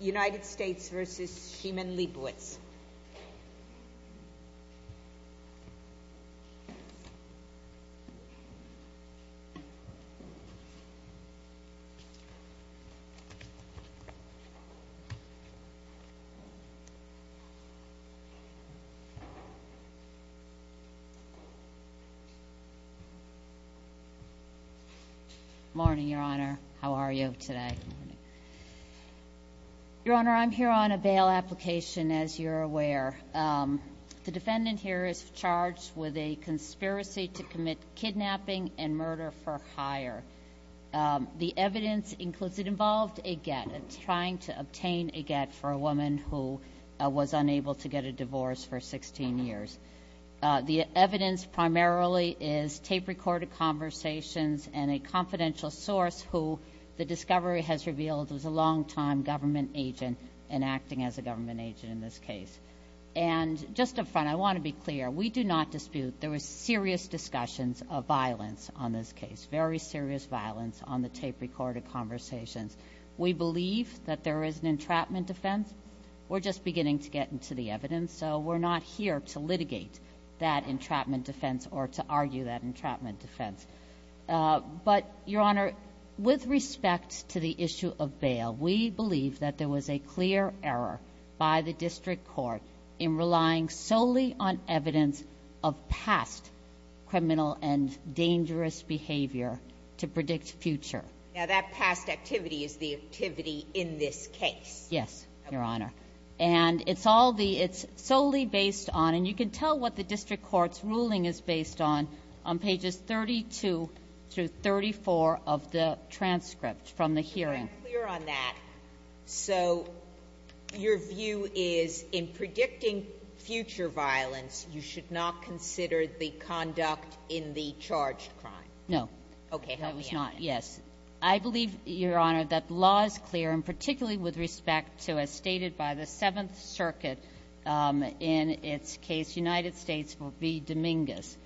United States v. Shiman Leibovitz. Good morning, Your Honor. How are you today? Your Honor, I'm here on a bail application, as you're aware. The defendant here is charged with a conspiracy to commit kidnapping and murder for hire. The evidence includes it involved a get, trying to obtain a get for a woman who was unable to get a divorce for 16 years. The evidence primarily is tape-recorded conversations and a confidential source who the discovery has revealed was a longtime government agent and acting as a government agent in this case. And just up front, I want to be clear. We do not dispute there were serious discussions of violence on this case, very serious violence on the tape-recorded conversations. We believe that there is an entrapment defense. We're just beginning to get into the evidence, so we're not here to litigate that entrapment defense or to argue that entrapment defense. But, Your Honor, with respect to the issue of bail, we believe that there was a clear error by the district court in relying solely on evidence of past criminal and dangerous behavior to predict future. Now, that past activity is the activity in this case. Yes, Your Honor. And it's all the ‑‑ it's solely based on, and you can tell what the district court's ruling is based on, on pages 32 through 34 of the transcript from the hearing. I'm clear on that. So your view is in predicting future violence, you should not consider the conduct in the charged crime? No. Okay, help me out. Yes. I believe, Your Honor, that the law is clear, and particularly with respect to, as stated by the Seventh Circuit in its case, United States v. Dominguez,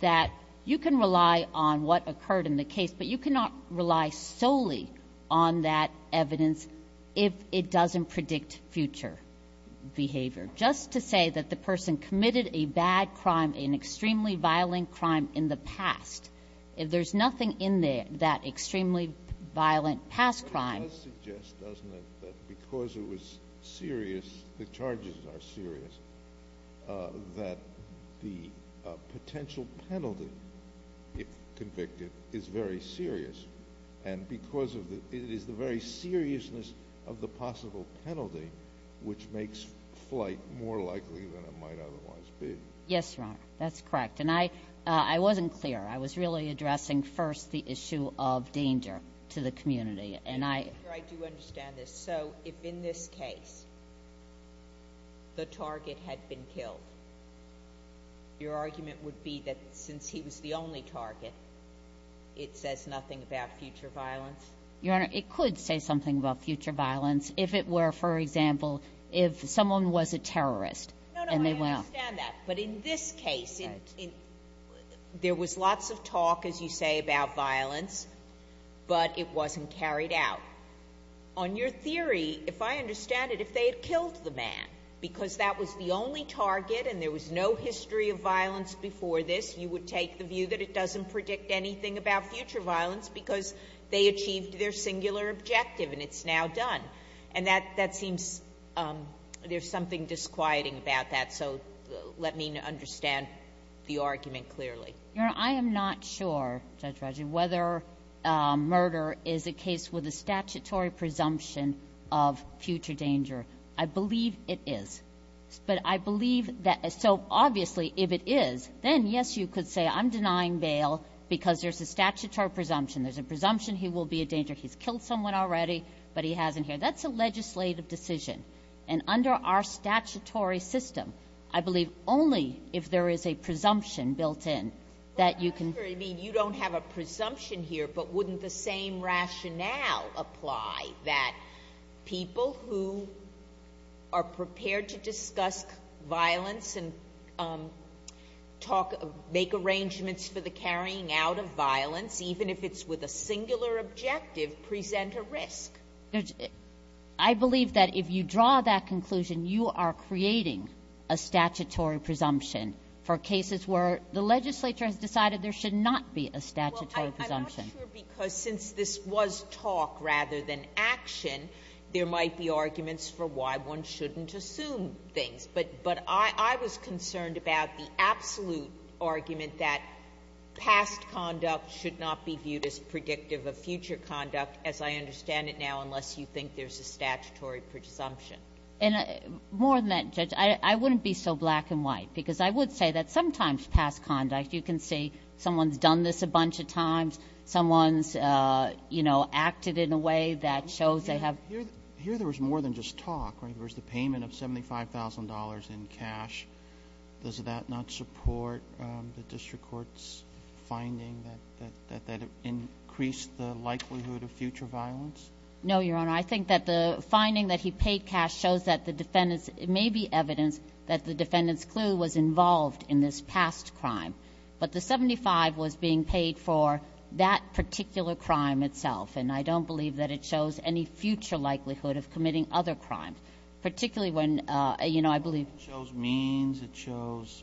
that you can rely on what occurred in the case, but you cannot rely solely on that evidence if it doesn't predict future behavior. Just to say that the person committed a bad crime, an extremely violent crime in the past, there's nothing in that extremely violent past crime. But it does suggest, doesn't it, that because it was serious, the charges are serious, that the potential penalty, if convicted, is very serious. And because of the ‑‑ it is the very seriousness of the possible penalty which makes flight more likely than it might otherwise be. Yes, Your Honor. That's correct. And I wasn't clear. I was really addressing first the issue of danger to the community. And I ‑‑ Your Honor, I do understand this. So if in this case the target had been killed, your argument would be that since he was the only target, it says nothing about future violence? Your Honor, it could say something about future violence if it were, for example, if someone was a terrorist and they went off. No, no, I understand that. But in this case, there was lots of talk, as you say, about violence, but it wasn't carried out. On your theory, if I understand it, if they had killed the man, because that was the only target and there was no history of violence before this, you would take the view that it doesn't predict anything about future violence because they achieved their singular objective and it's now done. And that seems ‑‑ there's something disquieting about that, so let me understand the argument clearly. Your Honor, I am not sure, Judge Ruggier, whether murder is a case with a statutory presumption of future danger. I believe it is. But I believe that ‑‑ so obviously if it is, then, yes, you could say, I'm denying bail because there's a statutory presumption. There's a presumption he will be a danger. He's killed someone already, but he hasn't here. That's a legislative decision. And under our statutory system, I believe only if there is a presumption built in that you can ‑‑ But I'm not sure you mean you don't have a presumption here, but wouldn't the same rationale apply that people who are prepared to discuss violence and make arrangements for the carrying out of violence, even if it's with a singular objective, present a risk? I believe that if you draw that conclusion, you are creating a statutory presumption for cases where the legislature has decided there should not be a statutory presumption. Well, I'm not sure because since this was talk rather than action, there might be arguments for why one shouldn't assume things. But I was concerned about the absolute argument that past conduct should not be viewed as predictive of future conduct, as I understand it now, unless you think there's a statutory presumption. More than that, Judge, I wouldn't be so black and white because I would say that sometimes past conduct, you can see someone's done this a bunch of times, someone's acted in a way that shows they have ‑‑ Here there was more than just talk. There was the payment of $75,000 in cash. Does that not support the district court's finding that it increased the likelihood of future violence? No, Your Honor. I think that the finding that he paid cash shows that the defendant's ‑‑ it may be evidence that the defendant's clue was involved in this past crime, but the $75,000 was being paid for that particular crime itself, and I don't believe that it shows any future likelihood of committing other crimes, particularly when, you know, I believe ‑‑ It means it shows,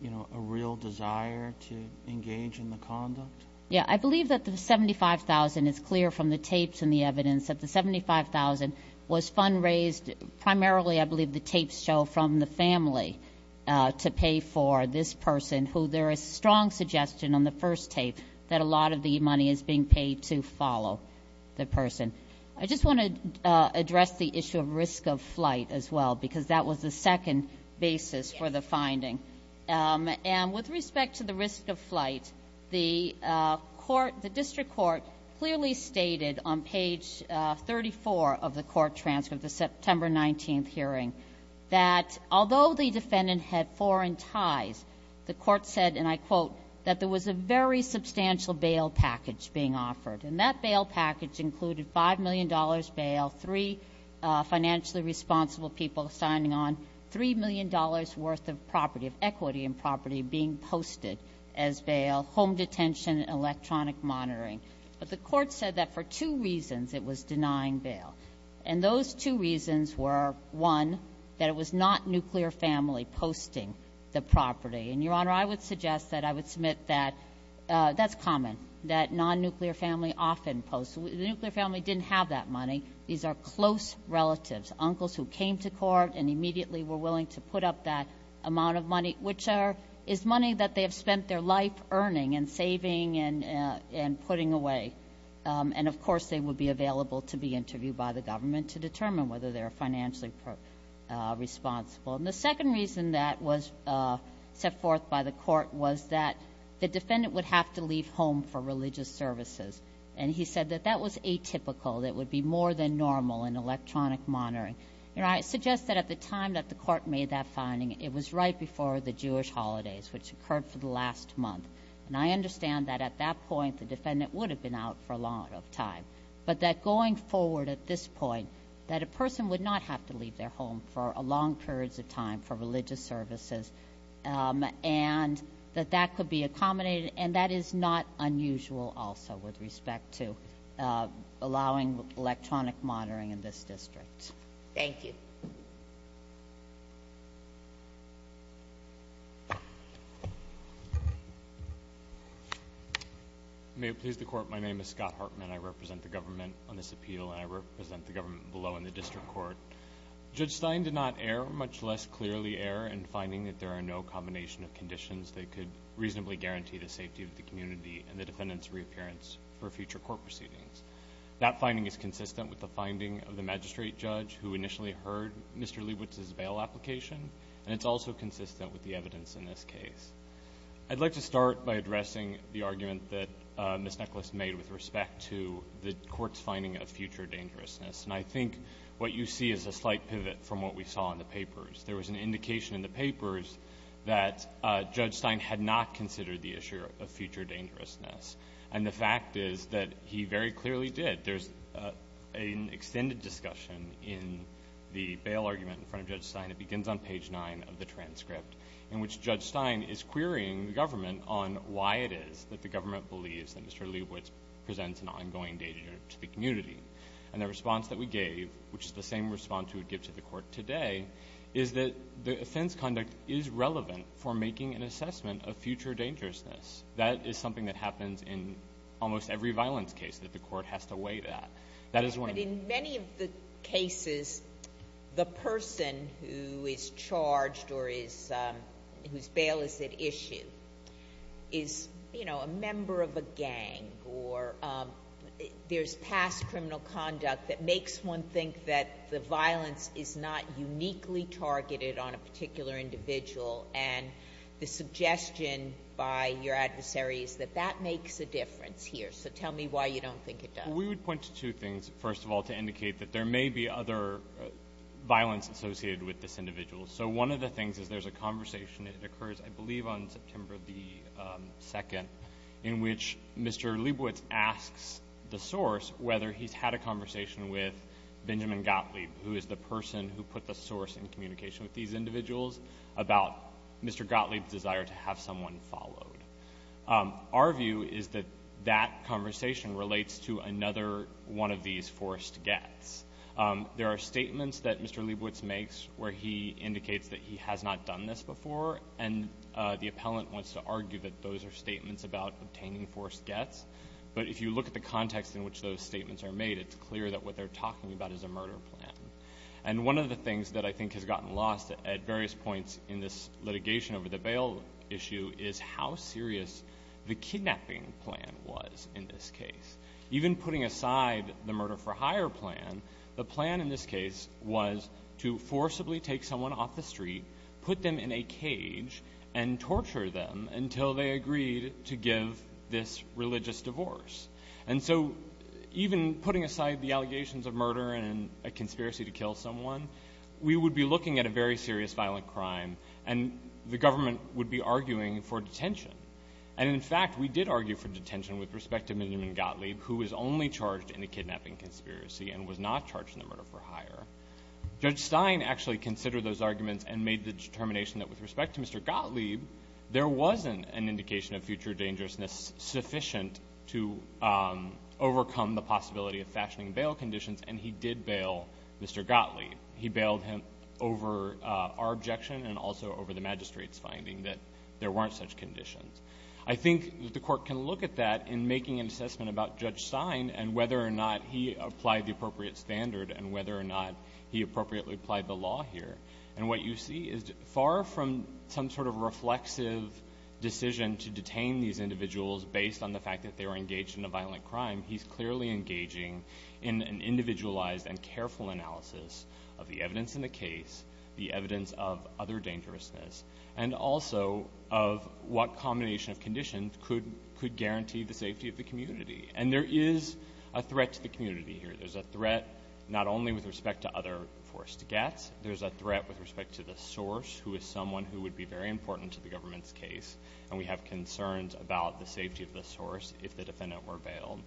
you know, a real desire to engage in the conduct? Yeah. I believe that the $75,000 is clear from the tapes and the evidence that the $75,000 was fund‑raised primarily, I believe, the tapes show from the family to pay for this person, who there is strong suggestion on the first tape that a lot of the money is being paid to follow the person. I just want to address the issue of risk of flight as well because that was the second basis for the finding. And with respect to the risk of flight, the court ‑‑ the district court clearly stated on page 34 of the court transcript, the September 19th hearing, that although the defendant had foreign ties, the court said, and I quote, that there was a very substantial bail package being offered, and that bail package included $5 million bail, three financially responsible people signing on, $3 million worth of property, of equity in property being posted as bail, home detention, electronic monitoring. But the court said that for two reasons it was denying bail, and those two reasons were, one, that it was not nuclear family posting the property. And, Your Honor, I would suggest that I would submit that that's common, that nonnuclear family often posts. The nuclear family didn't have that money. These are close relatives, uncles who came to court and immediately were willing to put up that amount of money, which is money that they have spent their life earning and saving and putting away. And, of course, they would be available to be interviewed by the government to determine whether they are financially responsible. And the second reason that was set forth by the court was that the defendant would have to leave home for religious services. And he said that that was atypical, that it would be more than normal in electronic monitoring. Your Honor, I suggest that at the time that the court made that finding, it was right before the Jewish holidays, which occurred for the last month. And I understand that at that point the defendant would have been out for a long time. But that going forward at this point, that a person would not have to leave their home for long periods of time for religious services, and that that could be accommodated. And that is not unusual, also, with respect to allowing electronic monitoring in this district. Thank you. May it please the Court, my name is Scott Hartman. I represent the government on this appeal, and I represent the government below in the district court. Judge Stein did not err, much less clearly err, in finding that there are no combination of conditions that could reasonably guarantee the safety of the community and the defendant's reappearance for future court proceedings. That finding is consistent with the finding of the magistrate judge who initially heard Mr. Leibowitz's bail application, and it's also consistent with the evidence in this case. I'd like to start by addressing the argument that Ms. Necklace made with respect to the court's finding of future dangerousness. And I think what you see is a slight pivot from what we saw in the papers. There was an indication in the papers that Judge Stein had not considered the issue of future dangerousness. And the fact is that he very clearly did. There's an extended discussion in the bail argument in front of Judge Stein. It begins on page 9 of the transcript, in which Judge Stein is querying the government on why it is that the government believes that Mr. Leibowitz presents an ongoing danger to the community. And the response that we gave, which is the same response we would give to the court today, is that the offense conduct is relevant for making an assessment of future dangerousness. That is something that happens in almost every violence case, that the court has to weigh that. But in many of the cases, the person who is charged or whose bail is at issue is, you know, a member of a gang or there's past criminal conduct that makes one think that the violence is not uniquely targeted on a particular individual. And the suggestion by your adversary is that that makes a difference here. So tell me why you don't think it does. We would point to two things, first of all, to indicate that there may be other violence associated with this individual. So one of the things is there's a conversation that occurs, I believe, on September 2nd in which Mr. Leibowitz asks the source whether he's had a conversation with Benjamin Gottlieb, who is the person who put the source in communication with these individuals, about Mr. Gottlieb's desire to have someone followed. Our view is that that conversation relates to another one of these forced gets. There are statements that Mr. Leibowitz makes where he indicates that he has not done this before, and the appellant wants to argue that those are statements about obtaining forced gets. But if you look at the context in which those statements are made, it's clear that what they're talking about is a murder plan. And one of the things that I think has gotten lost at various points in this litigation over the bail issue is how serious the kidnapping plan was in this case. Even putting aside the murder-for-hire plan, the plan in this case was to forcibly take someone off the street, put them in a cage, and torture them until they agreed to give this religious divorce. And so even putting aside the allegations of murder and a conspiracy to kill someone, we would be looking at a very serious violent crime, and the government would be arguing for detention. And in fact, we did argue for detention with respect to Benjamin Gottlieb, who was only charged in the kidnapping conspiracy and was not charged in the murder-for-hire. Judge Stein actually considered those arguments and made the determination that with respect to Mr. Gottlieb, there wasn't an indication of future dangerousness sufficient to overcome the possibility of fashioning bail conditions, and he did bail Mr. Gottlieb. He bailed him over our objection and also over the magistrate's finding that there weren't such conditions. I think that the Court can look at that in making an assessment about Judge Stein and whether or not he applied the appropriate standard and whether or not he appropriately applied the law here. And what you see is far from some sort of reflexive decision to detain these individuals based on the fact that they were engaged in a violent crime, he's clearly engaging in an individualized and careful analysis of the evidence in the case, the evidence of other dangerousness, and also of what combination of conditions could guarantee the safety of the community. And there is a threat to the community here. There's a threat not only with respect to other forced gets. There's a threat with respect to the source, who is someone who would be very important to the government's case, and we have concerns about the safety of the source if the defendant were bailed.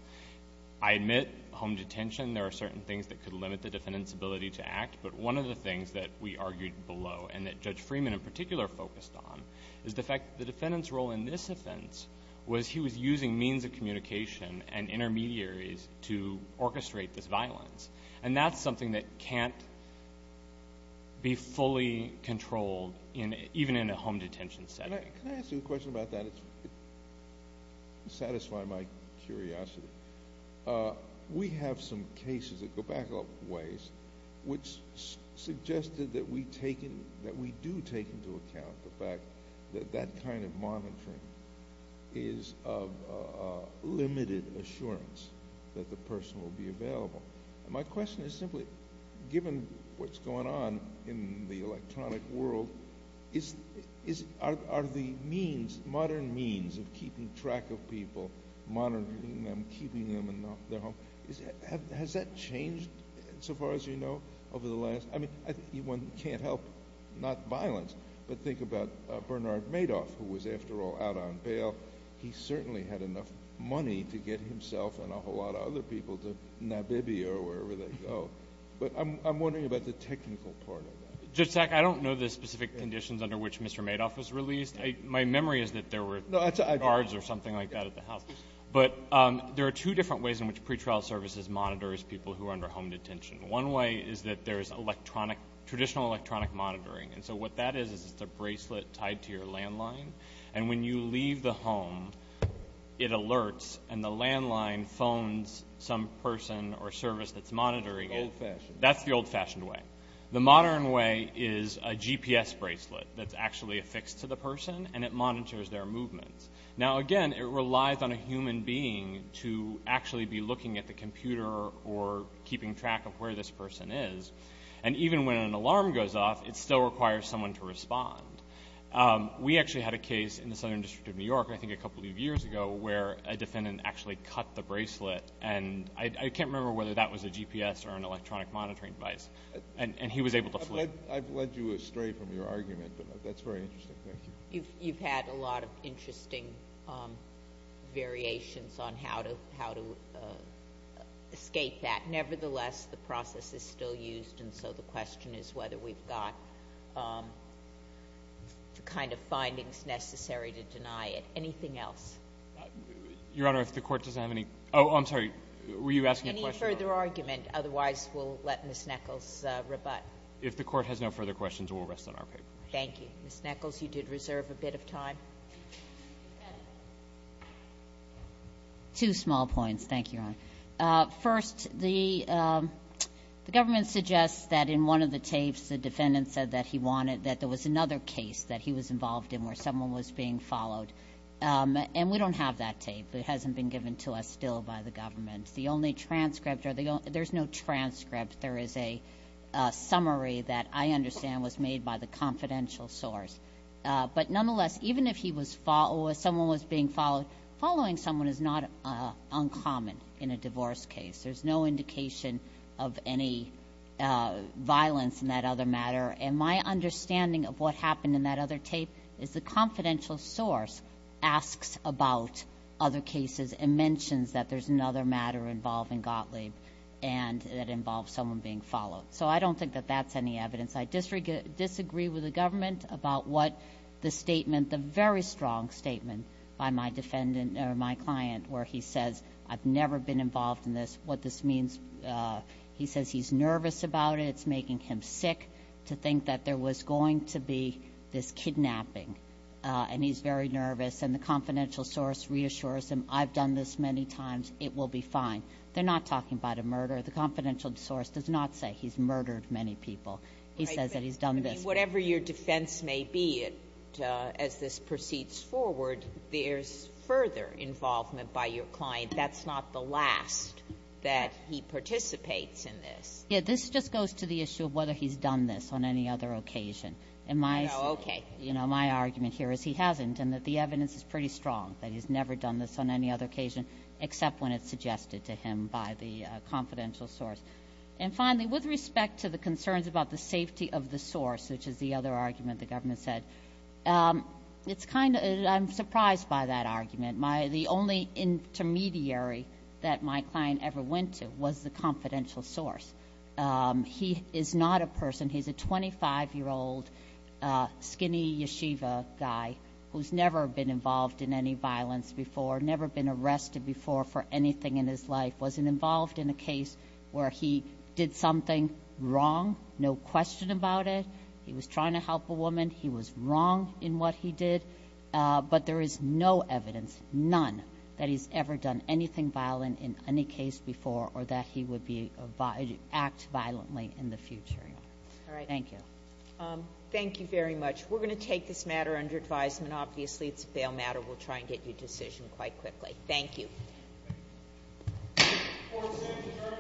I admit home detention, there are certain things that could limit the defendant's ability to act, but one of the things that we argued below and that Judge Freeman in particular focused on is the fact that the defendant's role in this offense was he was using means of communication and intermediaries to orchestrate this violence. And that's something that can't be fully controlled even in a home detention setting. Can I ask you a question about that? It's satisfying my curiosity. We have some cases that go back a ways which suggested that we do take into account the fact that that kind of monitoring is of limited assurance that the person will be available. My question is simply, given what's going on in the electronic world, are the means, modern means of keeping track of people, monitoring them, keeping them in their home, has that changed so far as you know over the last? I mean, one can't help not violence, but think about Bernard Madoff who was, after all, out on bail. He certainly had enough money to get himself and a whole lot of other people to Nabibia or wherever they go. But I'm wondering about the technical part of that. Judge Sack, I don't know the specific conditions under which Mr. Madoff was released. My memory is that there were guards or something like that at the house. But there are two different ways in which pretrial services monitor people who are under home detention. One way is that there is traditional electronic monitoring. And so what that is is it's a bracelet tied to your landline. And when you leave the home, it alerts, and the landline phones some person or service that's monitoring it. Old-fashioned. That's the old-fashioned way. The modern way is a GPS bracelet that's actually affixed to the person, and it monitors their movements. Now, again, it relies on a human being to actually be looking at the computer or keeping track of where this person is. And even when an alarm goes off, it still requires someone to respond. We actually had a case in the Southern District of New York, I think a couple of years ago, where a defendant actually cut the bracelet. And I can't remember whether that was a GPS or an electronic monitoring device. And he was able to flip. I've led you astray from your argument, but that's very interesting. Thank you. You've had a lot of interesting variations on how to escape that. Nevertheless, the process is still used, and so the question is whether we've got the kind of findings necessary to deny it. Anything else? Your Honor, if the Court doesn't have any – oh, I'm sorry, were you asking a question? Any further argument. Otherwise, we'll let Ms. Nichols rebut. If the Court has no further questions, we'll rest on our paper. Thank you. Ms. Nichols, you did reserve a bit of time. Two small points. Thank you, Your Honor. First, the government suggests that in one of the tapes, the defendant said that he wanted – that there was another case that he was involved in where someone was being followed. And we don't have that tape. It hasn't been given to us still by the government. The only transcript – there's no transcript. There is a summary that I understand was made by the confidential source. But nonetheless, even if he was – or if someone was being followed, following someone is not uncommon in a divorce case. There's no indication of any violence in that other matter. And my understanding of what happened in that other tape is the confidential source asks about other cases and mentions that there's another matter involving Gottlieb and that involves someone being followed. So I don't think that that's any evidence. I disagree with the government about what the statement – the very strong statement by my defendant or my client where he says, I've never been involved in this, what this means. He says he's nervous about it. It's making him sick to think that there was going to be this kidnapping. And he's very nervous. And the confidential source reassures him, I've done this many times. It will be fine. They're not talking about a murder. The confidential source does not say he's murdered many people. He says that he's done this. But, I mean, whatever your defense may be, as this proceeds forward, there's further involvement by your client. That's not the last that he participates in this. Yeah. This just goes to the issue of whether he's done this on any other occasion. No. Okay. My argument here is he hasn't, and that the evidence is pretty strong, that he's never done this on any other occasion except when it's suggested to him by the confidential source. And finally, with respect to the concerns about the safety of the source, which is the other argument the government said, it's kind of – I'm surprised by that argument. The only intermediary that my client ever went to was the confidential source. He is not a person. He's a 25-year-old skinny yeshiva guy who's never been involved in any violence before, never been arrested before for anything in his life, wasn't involved in a case where he did something wrong, no question about it. He was trying to help a woman. He was wrong in what he did. But there is no evidence, none, that he's ever done anything violent in any case before or that he would act violently in the future. All right. Thank you. Thank you very much. We're going to take this matter under advisement. Obviously, it's a bail matter. We'll try and get you a decision quite quickly. Thank you. Thank you. Court is adjourned.